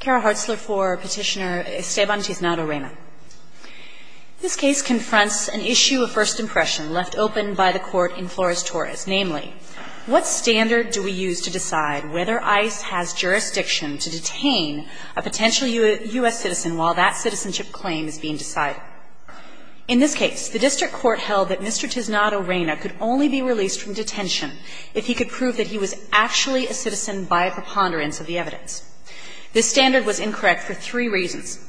Kara Hartzler for Petitioner Esteban Tiznado-Reyna. This case confronts an issue of first impression left open by the court in Flores-Torres. Namely, what standard do we use to decide whether ICE has jurisdiction to detain a potential U.S. citizen while that citizenship claim is being decided? In this case, the district court held that Mr. Tiznado-Reyna could only be released from detention if he could prove that he was actually a citizen by preponderance of the evidence. This standard was incorrect for three reasons.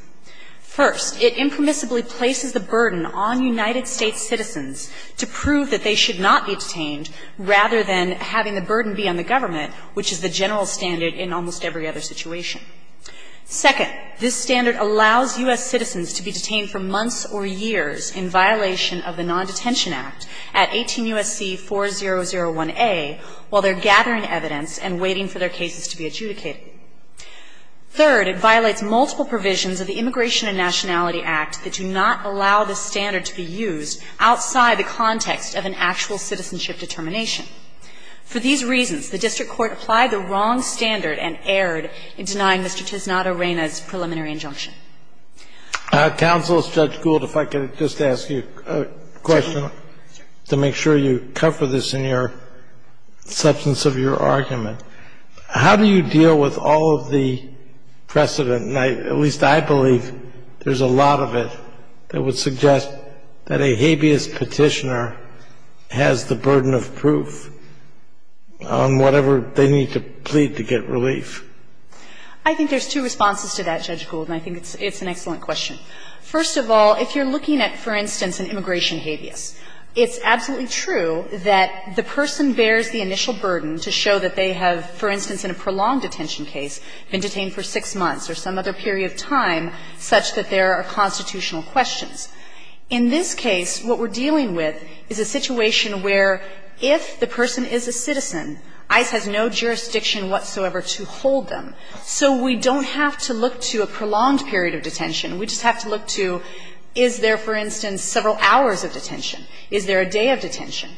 First, it impermissibly places the burden on United States citizens to prove that they should not be detained rather than having the burden be on the government, which is the general standard in almost every other situation. Second, this standard allows U.S. citizens to be detained for months or years in violation of the Non-Detention Act at 18 U.S.C. 4001A while they're gathering evidence and waiting for their cases to be adjudicated. Third, it violates multiple provisions of the Immigration and Nationality Act that do not allow this standard to be used outside the context of an actual citizenship determination. For these reasons, the district court applied the wrong standard and erred in denying Mr. Tiznado-Reyna's preliminary injunction. Counsel, Judge Gould, if I could just ask you a question to make sure you cover this in your substance of your argument. How do you deal with all of the precedent, and at least I believe there's a lot of it, that would suggest that a habeas Petitioner has the burden of proof on whatever they need to plead to get relief? I think there's two responses to that, Judge Gould, and I think it's an excellent question. First of all, if you're looking at, for instance, an immigration habeas, it's absolutely true that the person bears the initial burden to show that they have, for instance, in a prolonged detention case, been detained for six months or some other period of time, such that there are constitutional questions. In this case, what we're dealing with is a situation where, if the person is a citizen, ICE has no jurisdiction whatsoever to hold them. So we don't have to look to a prolonged period of detention. We just have to look to, is there, for instance, several hours of detention? Is there a day of detention?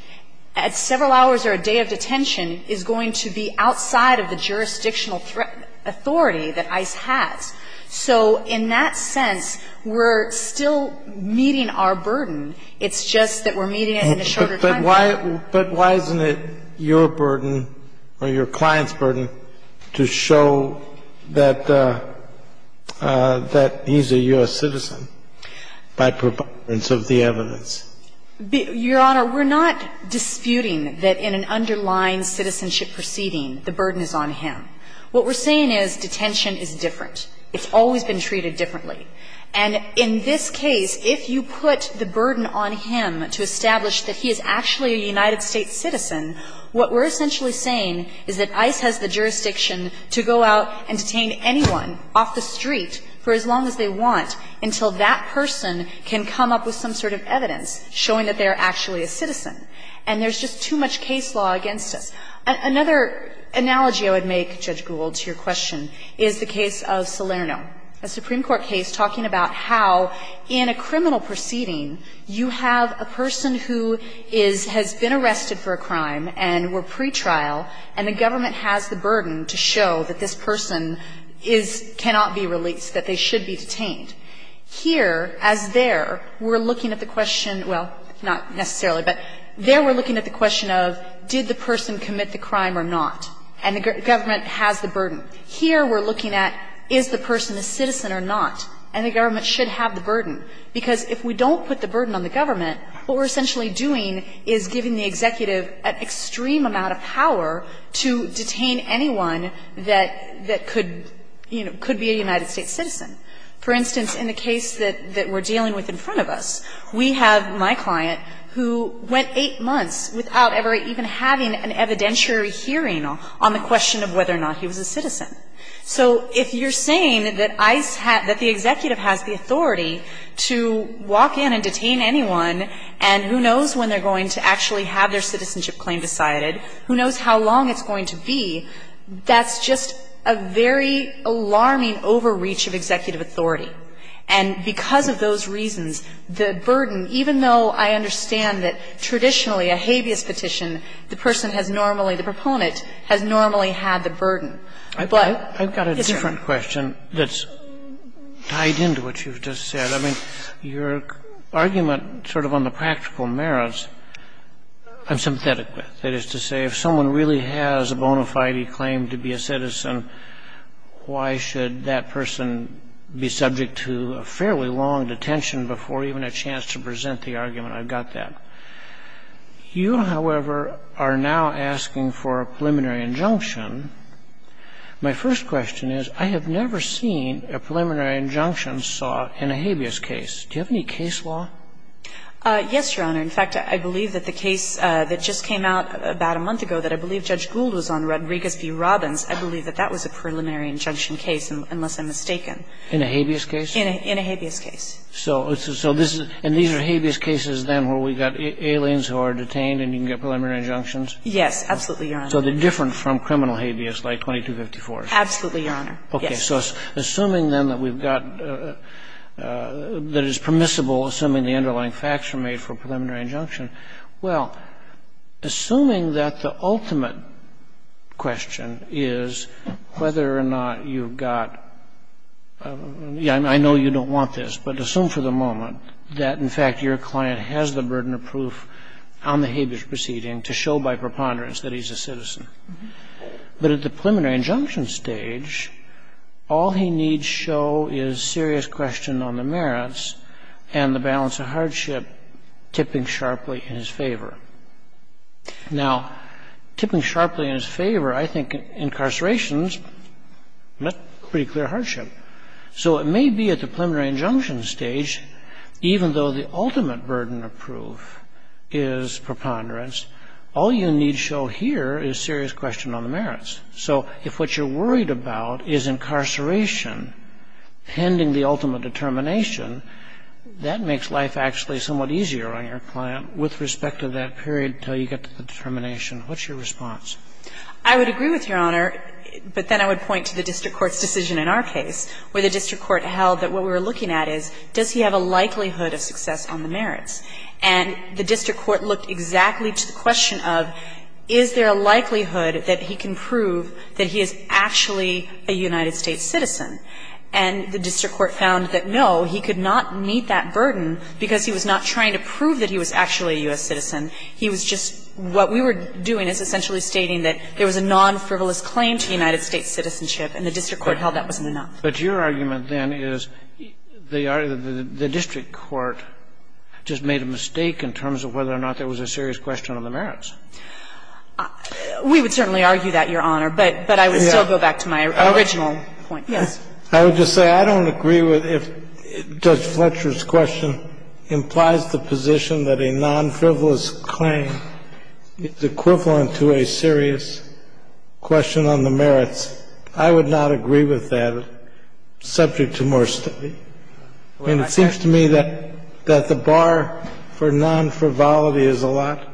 At several hours or a day of detention is going to be outside of the jurisdictional authority that ICE has. So in that sense, we're still meeting our burden. It's just that we're meeting it in a shorter time frame. But why isn't it your burden or your client's burden to show that he's a U.S. citizen by providence of the evidence? Your Honor, we're not disputing that in an underlying citizenship proceeding the burden is on him. What we're saying is detention is different. It's always been treated differently. And in this case, if you put the burden on him to establish that he is actually a United States citizen, what we're essentially saying is that ICE has the jurisdiction to go out and detain anyone off the street for as long as they want until that person can come up with some sort of evidence showing that they're actually a citizen. And there's just too much case law against us. Another analogy I would make, Judge Gould, to your question is the case of Salerno, a Supreme Court case talking about how, in a criminal proceeding, you have a person who is – has been arrested for a crime and were pretrial, and the government has the burden to show that this person is – cannot be released, that they should be detained. Here, as there, we're looking at the question – well, not necessarily, but there we're looking at the question of did the person commit the crime or not, and the government has the burden. Here, we're looking at is the person a citizen or not, and the government should have the burden, because if we don't put the burden on the government, what we're essentially doing is giving the executive an extreme amount of power to detain anyone that – that could, you know, could be a United States citizen. For instance, in the case that we're dealing with in front of us, we have my client who went eight months without ever even having an evidentiary hearing on the question of whether or not he was a citizen. So if you're saying that ICE has – that the executive has the authority to walk in and detain anyone, and who knows when they're going to actually have their citizenship claim decided, who knows how long it's going to be, that's just a very alarming overreach of executive authority. And because of those reasons, the burden, even though I understand that traditionally a habeas petition, the person has normally – the proponent has normally had the burden. But it's true. Kennedy, I've got a different question that's tied into what you've just said. I mean, your argument sort of on the practical merits I'm sympathetic with. That is to say, if someone really has a bona fide claim to be a citizen, why should that person be subject to a fairly long detention before even a chance to present the argument? I've got that. You, however, are now asking for a preliminary injunction. My first question is, I have never seen a preliminary injunction sought in a habeas case. Do you have any case law? Yes, Your Honor. In fact, I believe that the case that just came out about a month ago that I believe Judge Gould was on, Rodriguez v. Robbins, I believe that that was a preliminary injunction case, unless I'm mistaken. In a habeas case? In a habeas case. So this is – and these are habeas cases then where we've got aliens who are detained and you can get preliminary injunctions? Yes. Absolutely, Your Honor. So they're different from criminal habeas like 2254? Absolutely, Your Honor. Yes. Okay. So assuming then that we've got – that it's permissible, assuming the underlying facts are made for a preliminary injunction, well, assuming that the ultimate question is whether or not you've got – I know you don't want this, but assume for the moment that, in fact, your client has the burden of proof on the habeas proceeding to show by preponderance that he's a citizen. But at the preliminary injunction stage, all he needs show is serious question on the merits and the balance of hardship tipping sharply in his favor. Now, tipping sharply in his favor, I think incarceration is a pretty clear hardship. So it may be at the preliminary injunction stage, even though the ultimate burden of proof is preponderance, all you need show here is serious question on the merits. So if what you're worried about is incarceration pending the ultimate determination, that makes life actually somewhat easier on your client with respect to that period until you get to the determination. What's your response? I would agree with Your Honor, but then I would point to the district court's decision in our case, where the district court held that what we were looking at is, does he have a likelihood of success on the merits? And the district court looked exactly to the question of, is there a likelihood that he can prove that he is actually a United States citizen? And the district court found that, no, he could not meet that burden because he was not trying to prove that he was actually a U.S. citizen. He was just what we were doing is essentially stating that there was a non-frivolous claim to United States citizenship, and the district court held that wasn't enough. But your argument, then, is the district court just made a mistake in terms of whether or not there was a serious question on the merits. We would certainly argue that, Your Honor. But I would still go back to my original point. Yes. I would just say I don't agree with if Judge Fletcher's question implies the position that a non-frivolous claim is equivalent to a serious question on the merits. I would not agree with that subject to more study. And it seems to me that the bar for non-frivolity is a lot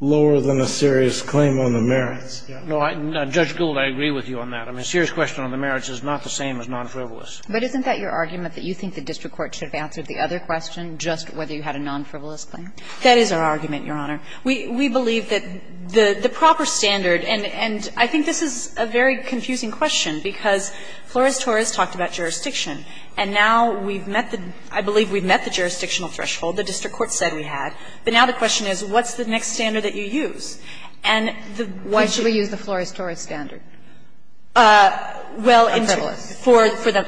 lower than a serious claim on the merits. No, Judge Gould, I agree with you on that. A serious question on the merits is not the same as non-frivolous. But isn't that your argument, that you think the district court should have answered the other question, just whether you had a non-frivolous claim? That is our argument, Your Honor. We believe that the proper standard, and I think this is a very confusing question because Flores-Torres talked about jurisdiction, and now we've met the – I believe we've met the jurisdictional threshold. The district court said we had. But now the question is, what's the next standard that you use? And the question – Why should we use the Flores-Torres standard on frivolous? Well,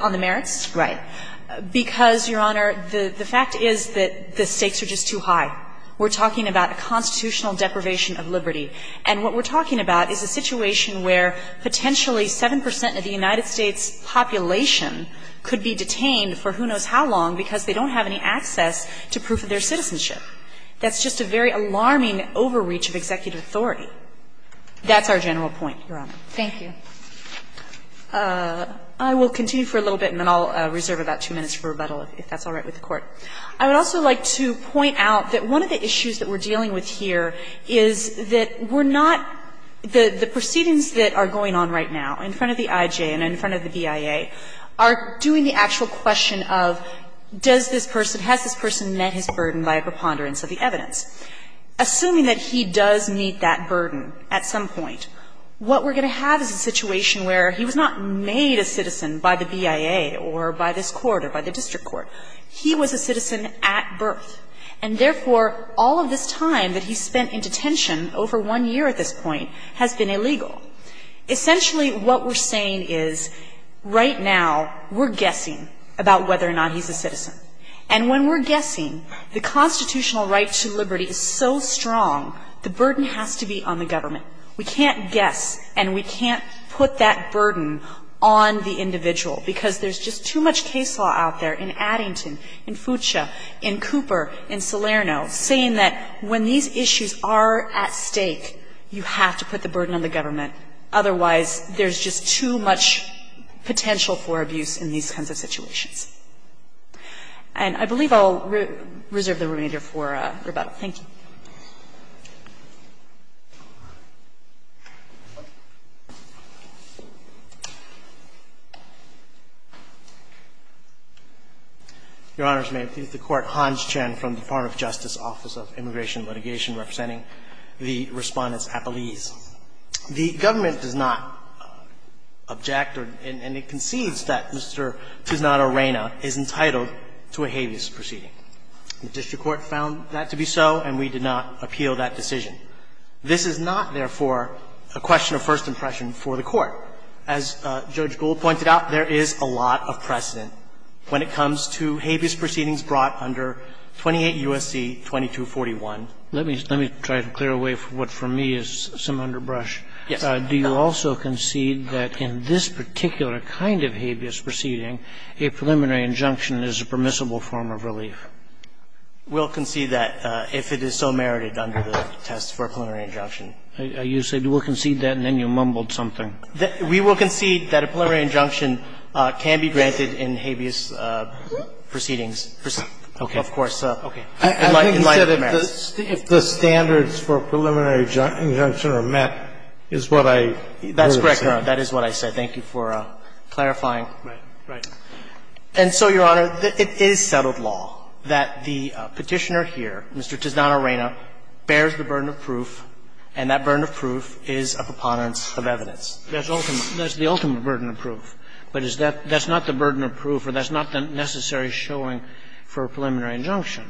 on the merits? Right. Because, Your Honor, the fact is that the stakes are just too high. We're talking about a constitutional deprivation of liberty. And what we're talking about is a situation where potentially 7 percent of the United States population could be detained for who knows how long because they don't have any access to proof of their citizenship. That's just a very alarming overreach of executive authority. That's our general point, Your Honor. Thank you. I will continue for a little bit, and then I'll reserve about two minutes for rebuttal if that's all right with the Court. I would also like to point out that one of the issues that we're dealing with here is that we're not – the proceedings that are going on right now in front of the IJ and in front of the BIA are doing the actual question of does this person, has this person met his burden by a preponderance of the evidence. Assuming that he does meet that burden at some point, what we're going to have is a situation where he was not made a citizen by the BIA or by this court or by the district court. He was a citizen at birth, and therefore, all of this time that he spent in detention over one year at this point has been illegal. Essentially, what we're saying is right now we're guessing about whether or not he's a citizen. And when we're guessing, the constitutional right to liberty is so strong, the burden has to be on the government. We can't guess and we can't put that burden on the individual because there's just too much case law out there in Addington, in Fuchsia, in Cooper, in Salerno, saying that when these issues are at stake, you have to put the burden on the government. Otherwise, there's just too much potential for abuse in these kinds of situations. And I believe I'll reserve the remainder for rebuttal. Thank you. Your Honors, may it please the Court. Hans Chen from the Department of Justice, Office of Immigration and Litigation, representing the Respondents Appellees. The government does not object or – and it concedes that Mr. Cisnato-Reina is entitled to a habeas proceeding. The district court found that to be so and we did not appeal that decision. This is not, therefore, a question of first impression for the Court. As Judge Gould pointed out, there is a lot of precedent when it comes to habeas proceedings brought under 28 U.S.C. 2241. Let me – let me try to clear away what for me is some underbrush. Yes. Do you also concede that in this particular kind of habeas proceeding, a preliminary injunction is a permissible form of relief? We'll concede that if it is so merited under the test for a preliminary injunction. You said we'll concede that and then you mumbled something. We will concede that a preliminary injunction can be granted in habeas proceedings. Okay. Of course. Okay. In light of merits. If the standards for a preliminary injunction are met is what I would have said. That's correct, Your Honor. That is what I said. Thank you for clarifying. Right. And so, Your Honor, it is settled law that the Petitioner here, Mr. Tisdano-Reyna, bears the burden of proof, and that burden of proof is a preponderance of evidence. That's the ultimate burden of proof, but is that – that's not the burden of proof or that's not the necessary showing for a preliminary injunction.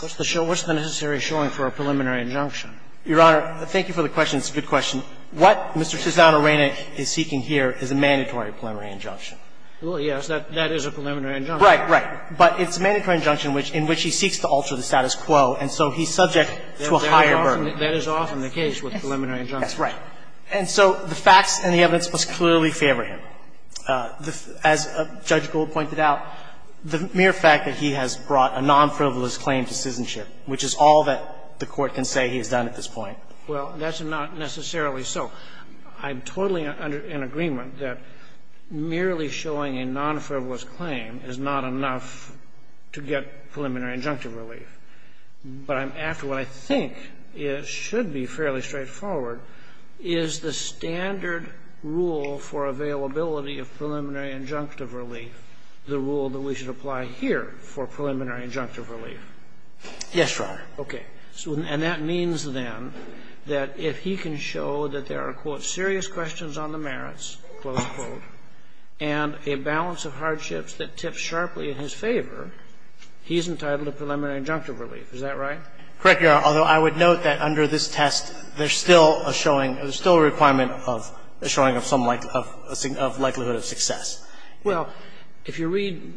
What's the necessary showing for a preliminary injunction? Your Honor, thank you for the question. It's a good question. What Mr. Tisdano-Reyna is seeking here is a mandatory preliminary injunction. Well, yes. That is a preliminary injunction. Right, right. But it's a mandatory injunction in which he seeks to alter the status quo, and so he's subject to a higher burden. That is often the case with preliminary injunctions. That's right. And so the facts and the evidence must clearly favor him. As Judge Gold pointed out, the mere fact that he has brought a non-frivolous claim to citizenship, which is all that the Court can say he has done at this point. Well, that's not necessarily so. I'm totally in agreement that merely showing a non-frivolous claim is not enough to get preliminary injunctive relief. But I'm after what I think should be fairly straightforward. Is the standard rule for availability of preliminary injunctive relief the rule that we should apply here for preliminary injunctive relief? Yes, Your Honor. Okay. And that means, then, that if he can show that there are, quote, serious questions on the merits, close quote, and a balance of hardships that tip sharply in his favor, he's entitled to preliminary injunctive relief. Is that right? Correct, Your Honor, although I would note that under this test, there's still a showing of some likelihood of success. Well, if you read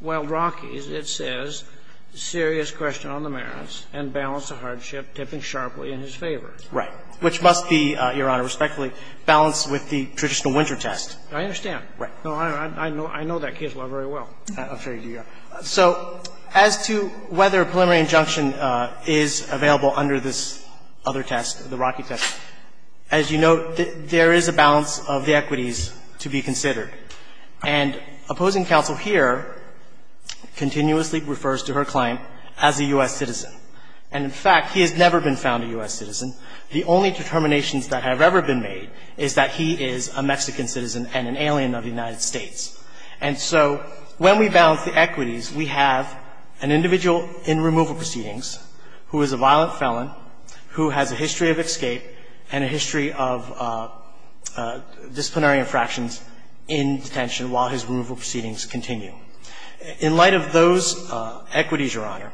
Wild Rockies, it says serious question on the merits and balance of hardship tipping sharply in his favor. Right. Which must be, Your Honor, respectfully, balanced with the traditional winter test. I understand. Right. No, I know that case law very well. I'm sure you do, Your Honor. So as to whether preliminary injunction is available under this other test, the Rocky test, as you note, there is a balance of the equities to be considered. And opposing counsel here continuously refers to her client as a U.S. citizen. And, in fact, he has never been found a U.S. citizen. The only determinations that have ever been made is that he is a Mexican citizen and an alien of the United States. And so when we balance the equities, we have an individual in removal proceedings who is a violent felon, who has a history of escape and a history of disciplinary infractions in detention while his removal proceedings continue. In light of those equities, Your Honor,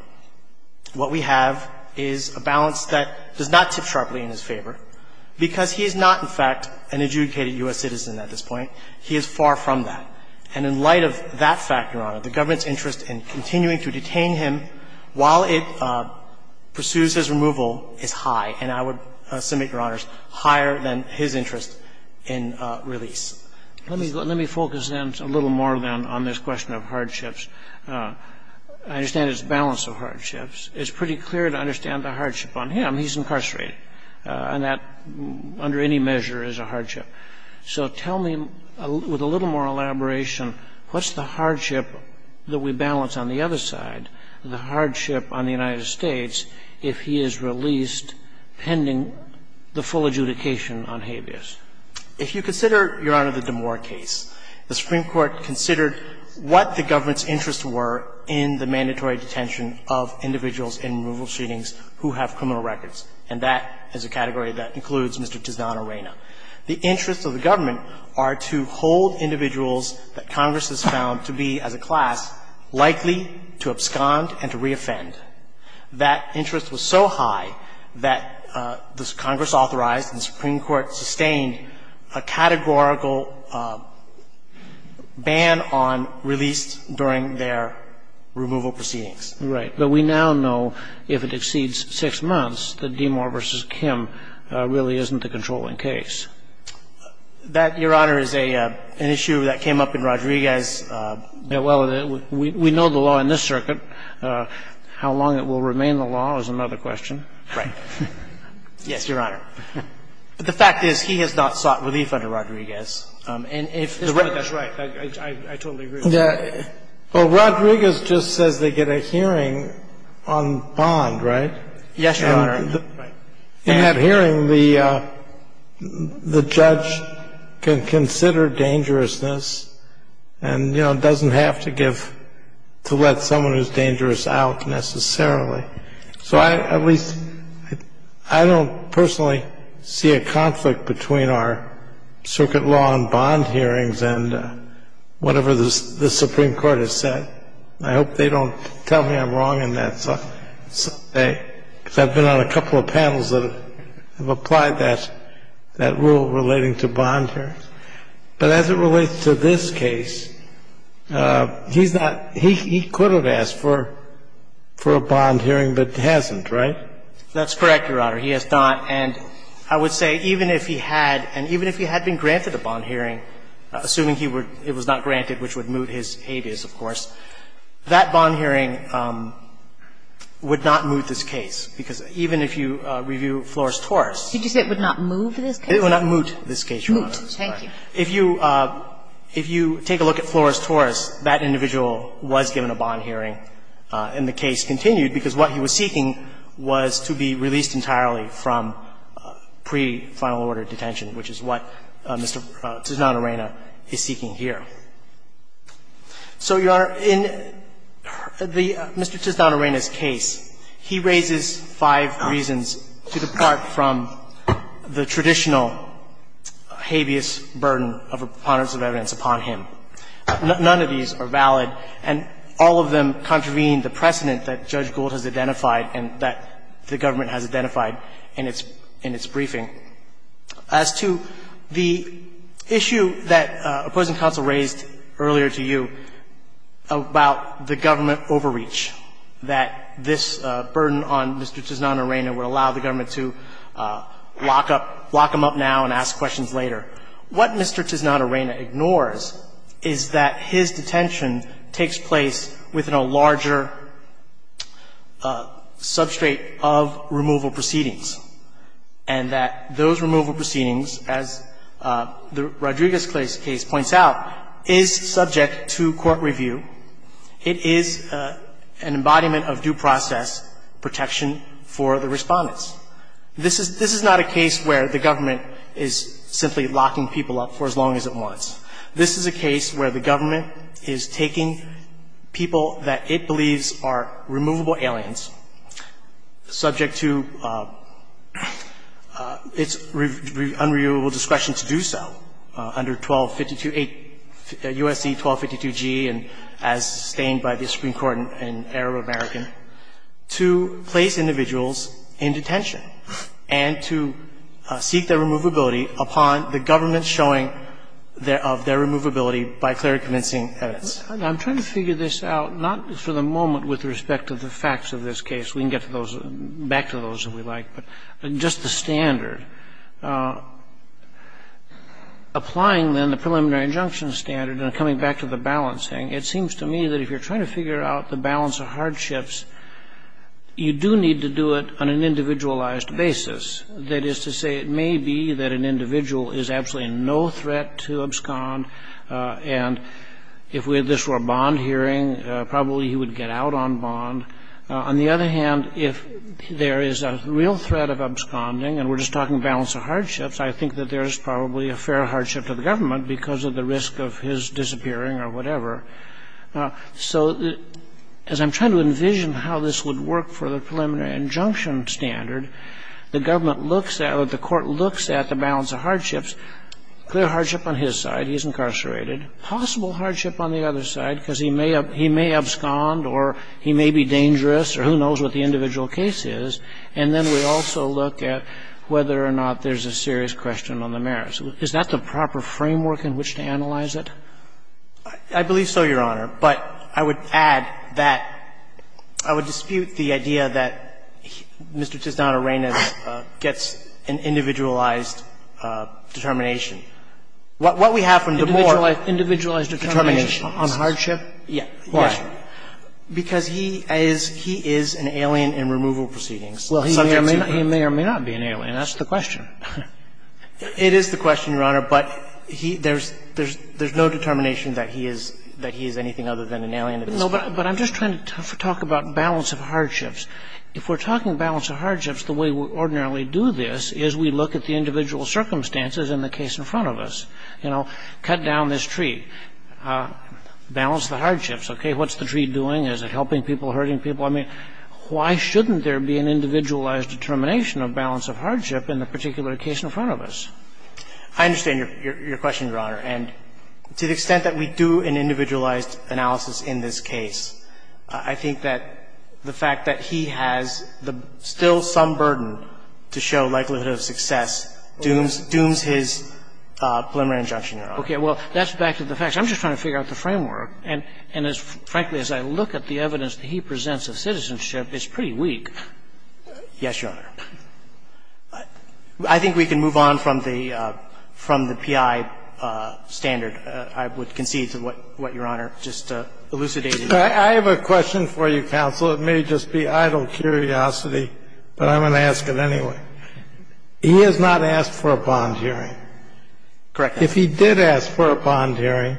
what we have is a balance that does not tip sharply in his favor because he is not, in fact, an adjudicated U.S. citizen at this point. He is far from that. And in light of that fact, Your Honor, the government's interest in continuing to detain him while it pursues his removal is high, and I would submit, Your Honor, higher than his interest in release. Let me focus in a little more, then, on this question of hardships. I understand it's a balance of hardships. It's pretty clear to understand the hardship on him. He's incarcerated. And that, under any measure, is a hardship. So tell me, with a little more elaboration, what's the hardship that we balance on the other side, the hardship on the United States, if he is released pending the full adjudication on habeas? If you consider, Your Honor, the Damore case, the Supreme Court considered what the government's interests were in the mandatory detention of individuals in removal proceedings who have criminal records, and that is a category that includes Mr. Tizana-Reyna. The interests of the government are to hold individuals that Congress has found to be, as a class, likely to abscond and to reoffend. That interest was so high that the Congress authorized and the Supreme Court sustained a categorical ban on release during their removal proceedings. Right. But we now know, if it exceeds six months, that Damore v. Kim really isn't the controlling case. That, Your Honor, is an issue that came up in Rodriguez. Well, we know the law in this circuit. How long it will remain the law is another question. Right. Yes, Your Honor. But the fact is, he has not sought relief under Rodriguez. And if the record is right, I totally agree. Well, Rodriguez just says they get a hearing on Bond, right? Yes, Your Honor. Right. In that hearing, the judge can consider dangerousness and, you know, doesn't have to give to let someone who's dangerous out, necessarily. So I, at least, I don't personally see a conflict between our circuit law and Bond hearings and whatever the Supreme Court has said. I hope they don't tell me I'm wrong in that. I'm not sure the Supreme Court has a right to give a bond hearing. I'm not sure the Supreme Court has a right to give a bond hearing. I've been on a couple of panels that have applied that, that rule relating to bond hearings. But as it relates to this case, he's not he could have asked for a bond hearing, but hasn't, right? That's correct, Your Honor. He has not. And I would say even if he had, and even if he had been granted a bond hearing, assuming he would, it was not granted, which would moot his habeas, of course, that bond hearing would not moot this case, because even if you review Flores-Torres. Did you say it would not moot this case? It would not moot this case, Your Honor. Moot. Thank you. If you, if you take a look at Flores-Torres, that individual was given a bond hearing and the case continued, because what he was seeking was to be released entirely from pre-final order detention, which is what Mr. Tisdan-Arena is seeking here. So, Your Honor, in the Mr. Tisdan-Arena's case, he raises five reasons to depart from the traditional habeas burden of a preponderance of evidence upon him. None of these are valid, and all of them contravene the precedent that Judge Gould has identified and that the government has identified in its briefing. As to the issue that opposing counsel raised earlier to you about the government overreach, that this burden on Mr. Tisdan-Arena would allow the government to lock up, lock him up now and ask questions later. What Mr. Tisdan-Arena ignores is that his detention takes place within a larger substrate of removal proceedings, and that those removal proceedings, as the Rodriguez case points out, is subject to court review. It is an embodiment of due process protection for the respondents. This is not a case where the government is simply locking people up for as long as it wants. This is a case where the government is taking people that it believes are removable aliens, subject to its unreviewable discretion to do so under 1252A, USC 1252G, and as sustained by the Supreme Court in Arab-American, to place individuals in detention and to seek their removability upon the government's showing of their removability by clear and convincing evidence. I'm trying to figure this out, not for the moment with respect to the facts of this case. We can get to those, back to those if we like, but just the standard. Applying then the preliminary injunction standard and coming back to the balancing, it seems to me that if you're trying to figure out the balance of hardships, you do need to do it on an individualized basis. That is to say, it may be that an individual is absolutely no threat to abscond, and if this were a bond hearing, probably he would get out on bond. On the other hand, if there is a real threat of absconding, and we're just talking balance of hardships, I think that there is probably a fair hardship to the government because of the risk of his disappearing or whatever. So as I'm trying to envision how this would work for the preliminary injunction standard, the government looks at or the court looks at the balance of hardships, clear hardship on his side, he's incarcerated, possible hardship on the other side because he may abscond or he may be dangerous or who knows what the individual case is, and then we also look at whether or not there's a serious question on the merits. Is that the proper framework in which to analyze it? I believe so, Your Honor. But I would add that I would dispute the idea that Mr. Tisdano-Reynes gets an individualized determination. What we have from the board is determination. Individualized determination on hardship? Yes. Why? Because he is an alien in removal proceedings. Well, he may or may not be an alien. That's the question. It is the question, Your Honor. But there's no determination that he is anything other than an alien. No, but I'm just trying to talk about balance of hardships. If we're talking balance of hardships, the way we ordinarily do this is we look at the individual circumstances in the case in front of us. You know, cut down this tree, balance the hardships. Okay. What's the tree doing? Is it helping people, hurting people? I mean, why shouldn't there be an individualized determination of balance of hardship in the particular case in front of us? I understand your question, Your Honor. And to the extent that we do an individualized analysis in this case, I think that the fact that he has still some burden to show likelihood of success dooms his preliminary injunction, Your Honor. Okay. Well, that's back to the facts. I'm just trying to figure out the framework. And frankly, as I look at the evidence that he presents of citizenship, it's pretty weak. Yes, Your Honor. I think we can move on from the PI standard. I would concede to what Your Honor just elucidated. I have a question for you, counsel. It may just be idle curiosity, but I'm going to ask it anyway. He has not asked for a bond hearing. Correct. If he did ask for a bond hearing,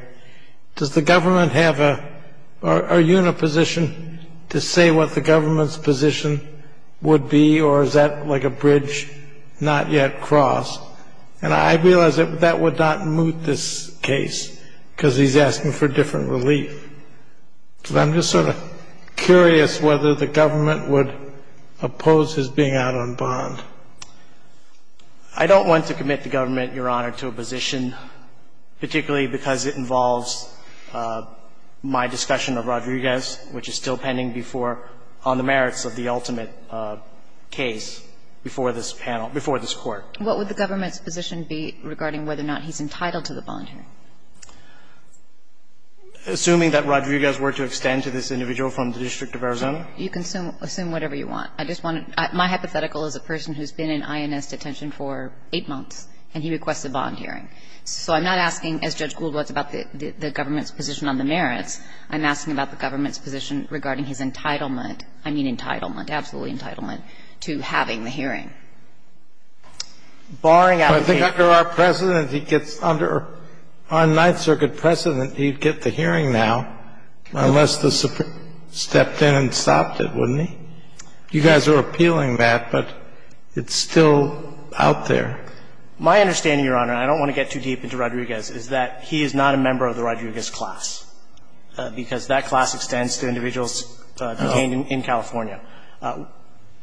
does the government have a unit position to say what the government's position would be, or is that like a bridge not yet crossed? And I realize that that would not moot this case because he's asking for different relief. So I'm just sort of curious whether the government would oppose his being out on bond. I don't want to commit the government, Your Honor, to a position, particularly because it involves my discussion of Rodriguez, which is still pending before on the merits of the ultimate case before this panel, before this Court. What would the government's position be regarding whether or not he's entitled to the bond hearing? Assuming that Rodriguez were to extend to this individual from the District of Arizona? You can assume whatever you want. I just want to my hypothetical is a person who's been in INS detention for eight months, and he requests a bond hearing. So I'm not asking, as Judge Gould was, about the government's position on the merits. I'm asking about the government's position regarding his entitlement. I mean entitlement, absolutely entitlement, to having the hearing. Barring out the case. But I think under our precedent, he gets under our Ninth Circuit precedent, he'd get the hearing now, unless the Supreme Court stepped in and stopped it, wouldn't he? You guys are appealing that, but it's still out there. My understanding, Your Honor, and I don't want to get too deep into Rodriguez, is that he is not a member of the Rodriguez class, because that class extends to individuals detained in California.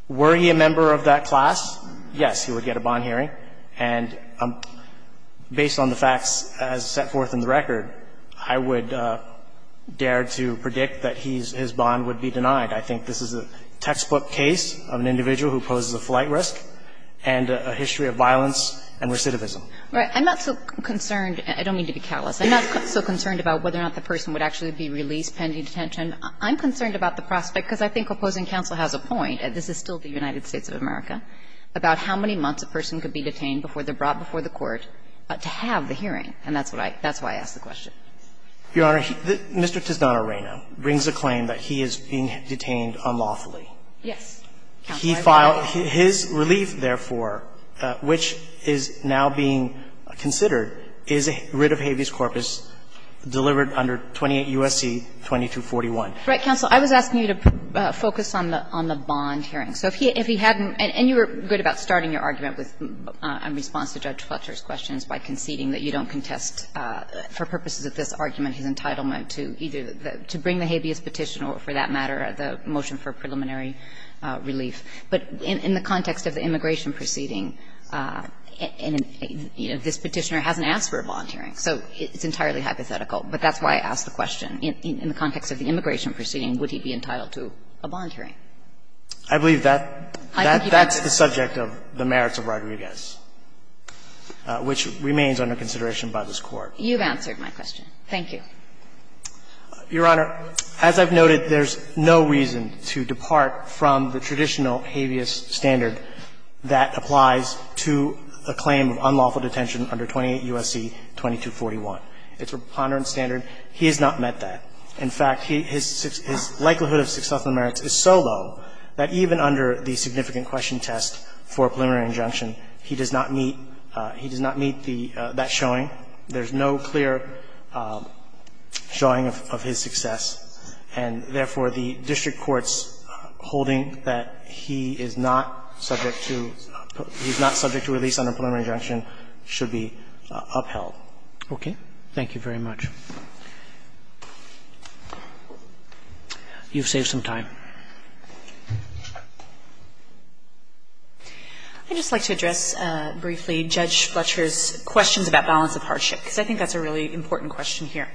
Were he a member of that class? Yes, he would get a bond hearing. And based on the facts as set forth in the record, I would dare to predict that he's his bond would be denied. I think this is a textbook case of an individual who poses a flight risk and a history of violence and recidivism. Right. I'm not so concerned. I don't mean to be callous. I'm not so concerned about whether or not the person would actually be released pending detention. I'm concerned about the prospect, because I think opposing counsel has a point, and this is still the United States of America, about how many months a person could be detained before they're brought before the court to have the hearing. And that's what I ask the question. Your Honor, Mr. Tiznano-Reyno brings a claim that he is being detained unlawfully. Yes. He filed his relief, therefore, which is now being considered, is a writ of habeas corpus delivered under 28 U.S.C. 2241. Right, counsel. I was asking you to focus on the bond hearing. So if he hadn't been, and you were good about starting your argument with, in response to Judge Fletcher's questions, by conceding that you don't contest, for purposes of this argument, his entitlement to either to bring the habeas petition or, for that relief. But in the context of the immigration proceeding, this Petitioner hasn't asked for a bond hearing, so it's entirely hypothetical. But that's why I asked the question. In the context of the immigration proceeding, would he be entitled to a bond hearing? I believe that's the subject of the merits of Rodriguez, which remains under consideration by this Court. You've answered my question. Thank you. Your Honor, as I've noted, there's no reason to depart from the traditional habeas standard that applies to a claim of unlawful detention under 28 U.S.C. 2241. It's a preponderance standard. He has not met that. In fact, his likelihood of successful merits is so low that even under the significant question test for preliminary injunction, he does not meet that showing. There's no clear showing of his success. And therefore, the district court's holding that he is not subject to release under preliminary injunction should be upheld. Okay. Thank you very much. You've saved some time. I'd just like to address briefly Judge Fletcher's questions about balance of power and hardship, because I think that's a really important question here.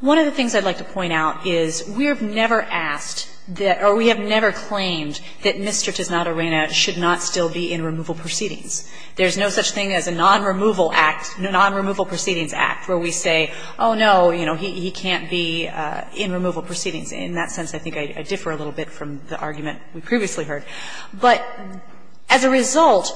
One of the things I'd like to point out is we have never asked that or we have never claimed that Mr. Tisnot Arena should not still be in removal proceedings. There's no such thing as a non-removal act, a non-removal proceedings act, where we say, oh, no, you know, he can't be in removal proceedings. In that sense, I think I differ a little bit from the argument we previously heard. But as a result,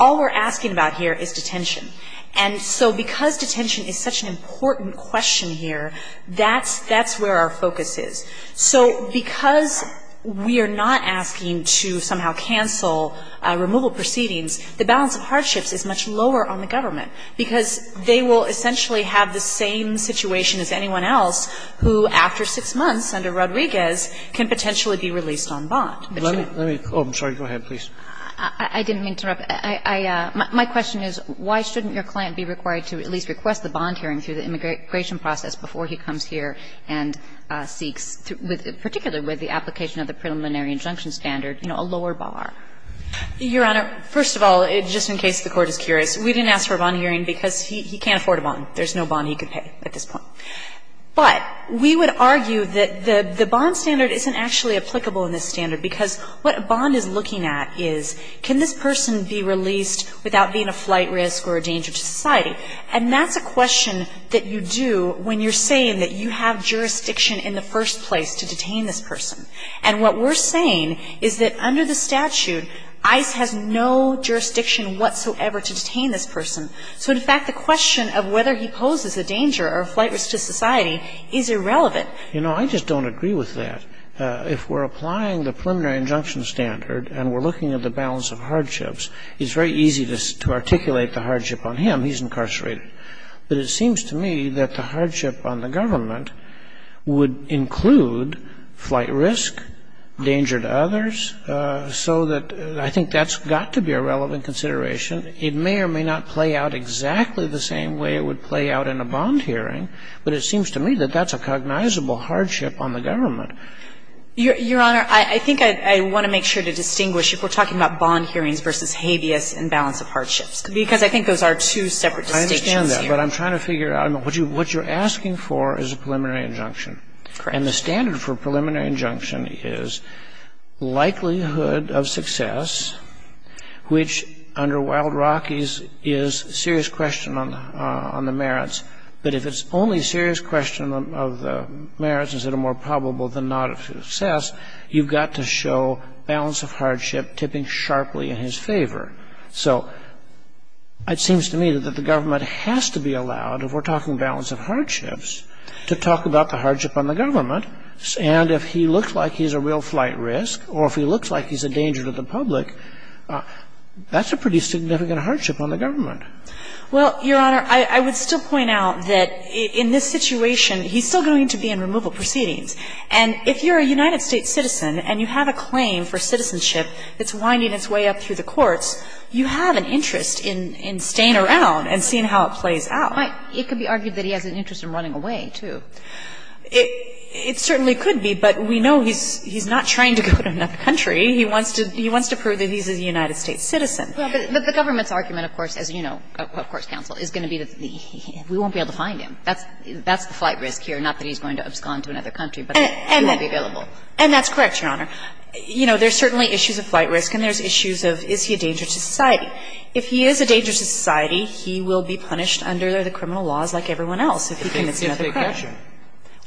all we're asking about here is detention. And so because detention is such an important question here, that's where our focus is. So because we are not asking to somehow cancel removal proceedings, the balance of hardships is much lower on the government, because they will essentially have the same situation as anyone else who, after six months under Rodriguez, can potentially be released on bond. Let me go ahead, please. I didn't mean to interrupt. My question is, why shouldn't your client be required to at least request the bond hearing through the immigration process before he comes here and seeks, particularly with the application of the preliminary injunction standard, you know, a lower bar? Your Honor, first of all, just in case the Court is curious, we didn't ask for a bond hearing because he can't afford a bond. There's no bond he could pay at this point. But we would argue that the bond standard isn't actually applicable in this standard, because what a bond is looking at is, can this person be released without being a flight risk or a danger to society? And that's a question that you do when you're saying that you have jurisdiction in the first place to detain this person. And what we're saying is that under the statute, ICE has no jurisdiction whatsoever to detain this person. So, in fact, the question of whether he poses a danger or a flight risk to society is irrelevant. You know, I just don't agree with that. If we're applying the preliminary injunction standard and we're looking at the balance of hardships, it's very easy to articulate the hardship on him. He's incarcerated. But it seems to me that the hardship on the government would include flight risk, danger to others, so that I think that's got to be a relevant consideration. It may or may not play out exactly the same way it would play out in a bond hearing, but it seems to me that that's a cognizable hardship on the government. Your Honor, I think I want to make sure to distinguish if we're talking about bond hearings versus habeas and balance of hardships, because I think those are two separate distinctions here. I understand that, but I'm trying to figure out. What you're asking for is a preliminary injunction. Correct. And the standard for preliminary injunction is likelihood of success, which under Wild Rockies is serious question on the merits, but if it's only serious question of the merits that are more probable than not of success, you've got to show balance of hardship tipping sharply in his favor. So it seems to me that the government has to be allowed, if we're talking balance of hardships, to talk about the hardship on the government, and if he looks like he's a real flight risk or if he looks like he's a danger to the public, that's a pretty significant hardship on the government. Well, Your Honor, I would still point out that in this situation, he's still going to be in removal proceedings, and if you're a United States citizen and you have a claim for citizenship that's winding its way up through the courts, you have an interest in staying around and seeing how it plays out. It could be argued that he has an interest in running away, too. It certainly could be, but we know he's not trying to go to another country. He wants to prove that he's a United States citizen. Well, but the government's argument, of course, as you know, of course, counsel, is going to be that we won't be able to find him. That's the flight risk here, not that he's going to abscond to another country, but he won't be available. And that's correct, Your Honor. You know, there's certainly issues of flight risk and there's issues of is he a danger to society. If he is a danger to society, he will be punished under the criminal laws like everyone else if he commits another crime. If they catch him.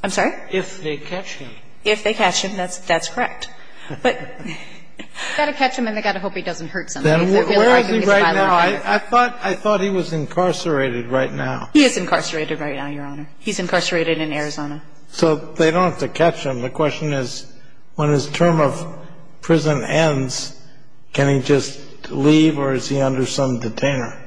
I'm sorry? If they catch him. If they catch him, that's correct. But they've got to catch him and they've got to hope he doesn't hurt somebody. Then where is he right now? I thought he was incarcerated right now. He is incarcerated right now, Your Honor. He's incarcerated in Arizona. So they don't have to catch him. The question is when his term of prison ends, can he just leave or is he under some detainer?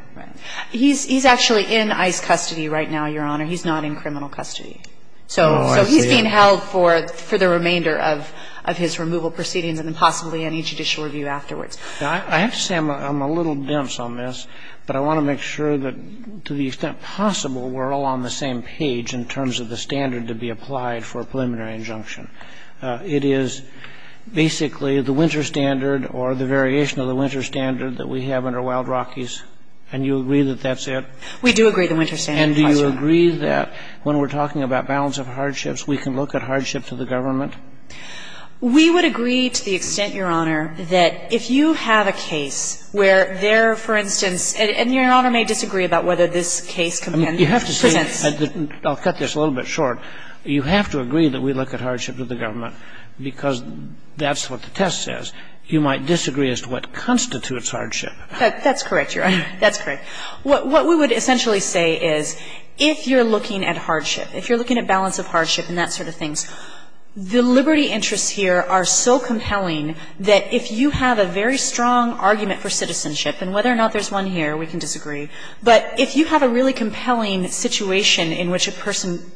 He's actually in ICE custody right now, Your Honor. He's not in criminal custody. So he's being held for the remainder of his removal proceedings and then possibly any judicial review afterwards. Now, I have to say I'm a little dense on this, but I want to make sure that to the extent possible, we're all on the same page in terms of the standard to be applied for a preliminary injunction. It is basically the winter standard or the variation of the winter standard that we have under Wild Rockies, and you agree that that's it? We do agree the winter standard applies here. And do you agree that when we're talking about balance of hardships, we can look at hardship to the government? We would agree to the extent, Your Honor, that if you have a case where there, for instance, and Your Honor may disagree about whether this case presents you have to say, I'll cut this a little bit short, you have to agree that we look at hardship to the government because that's what the test says. You might disagree as to what constitutes hardship. That's correct, Your Honor. That's correct. What we would essentially say is if you're looking at hardship, if you're looking at balance of hardship and that sort of thing, the liberty interests here are so compelling that if you have a very strong argument for citizenship, and whether or not there's one here, we can disagree, but if you have a really compelling situation in which a person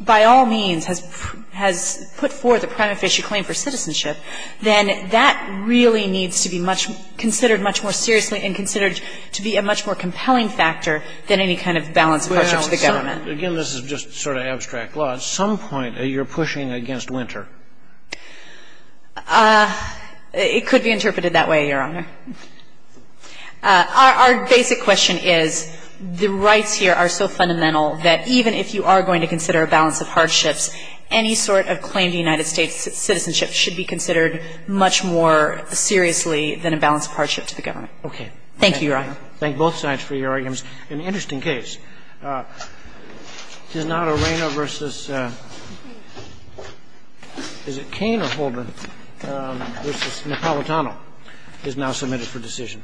by all means has put forth a prima facie claim for citizenship, then that really needs to be considered much more seriously and considered to be a much more compelling factor than any kind of balance of hardship to the government. Again, this is just sort of abstract law. At some point, you're pushing against Winter. It could be interpreted that way, Your Honor. Our basic question is the rights here are so fundamental that even if you are going to consider a balance of hardships, any sort of claim to United States citizenship should be considered much more seriously than a balance of hardship to the government. Okay. Thank you, Your Honor. Thank both sides for your arguments. An interesting case. Is it Cane or Holder versus Napolitano is now submitted for decision.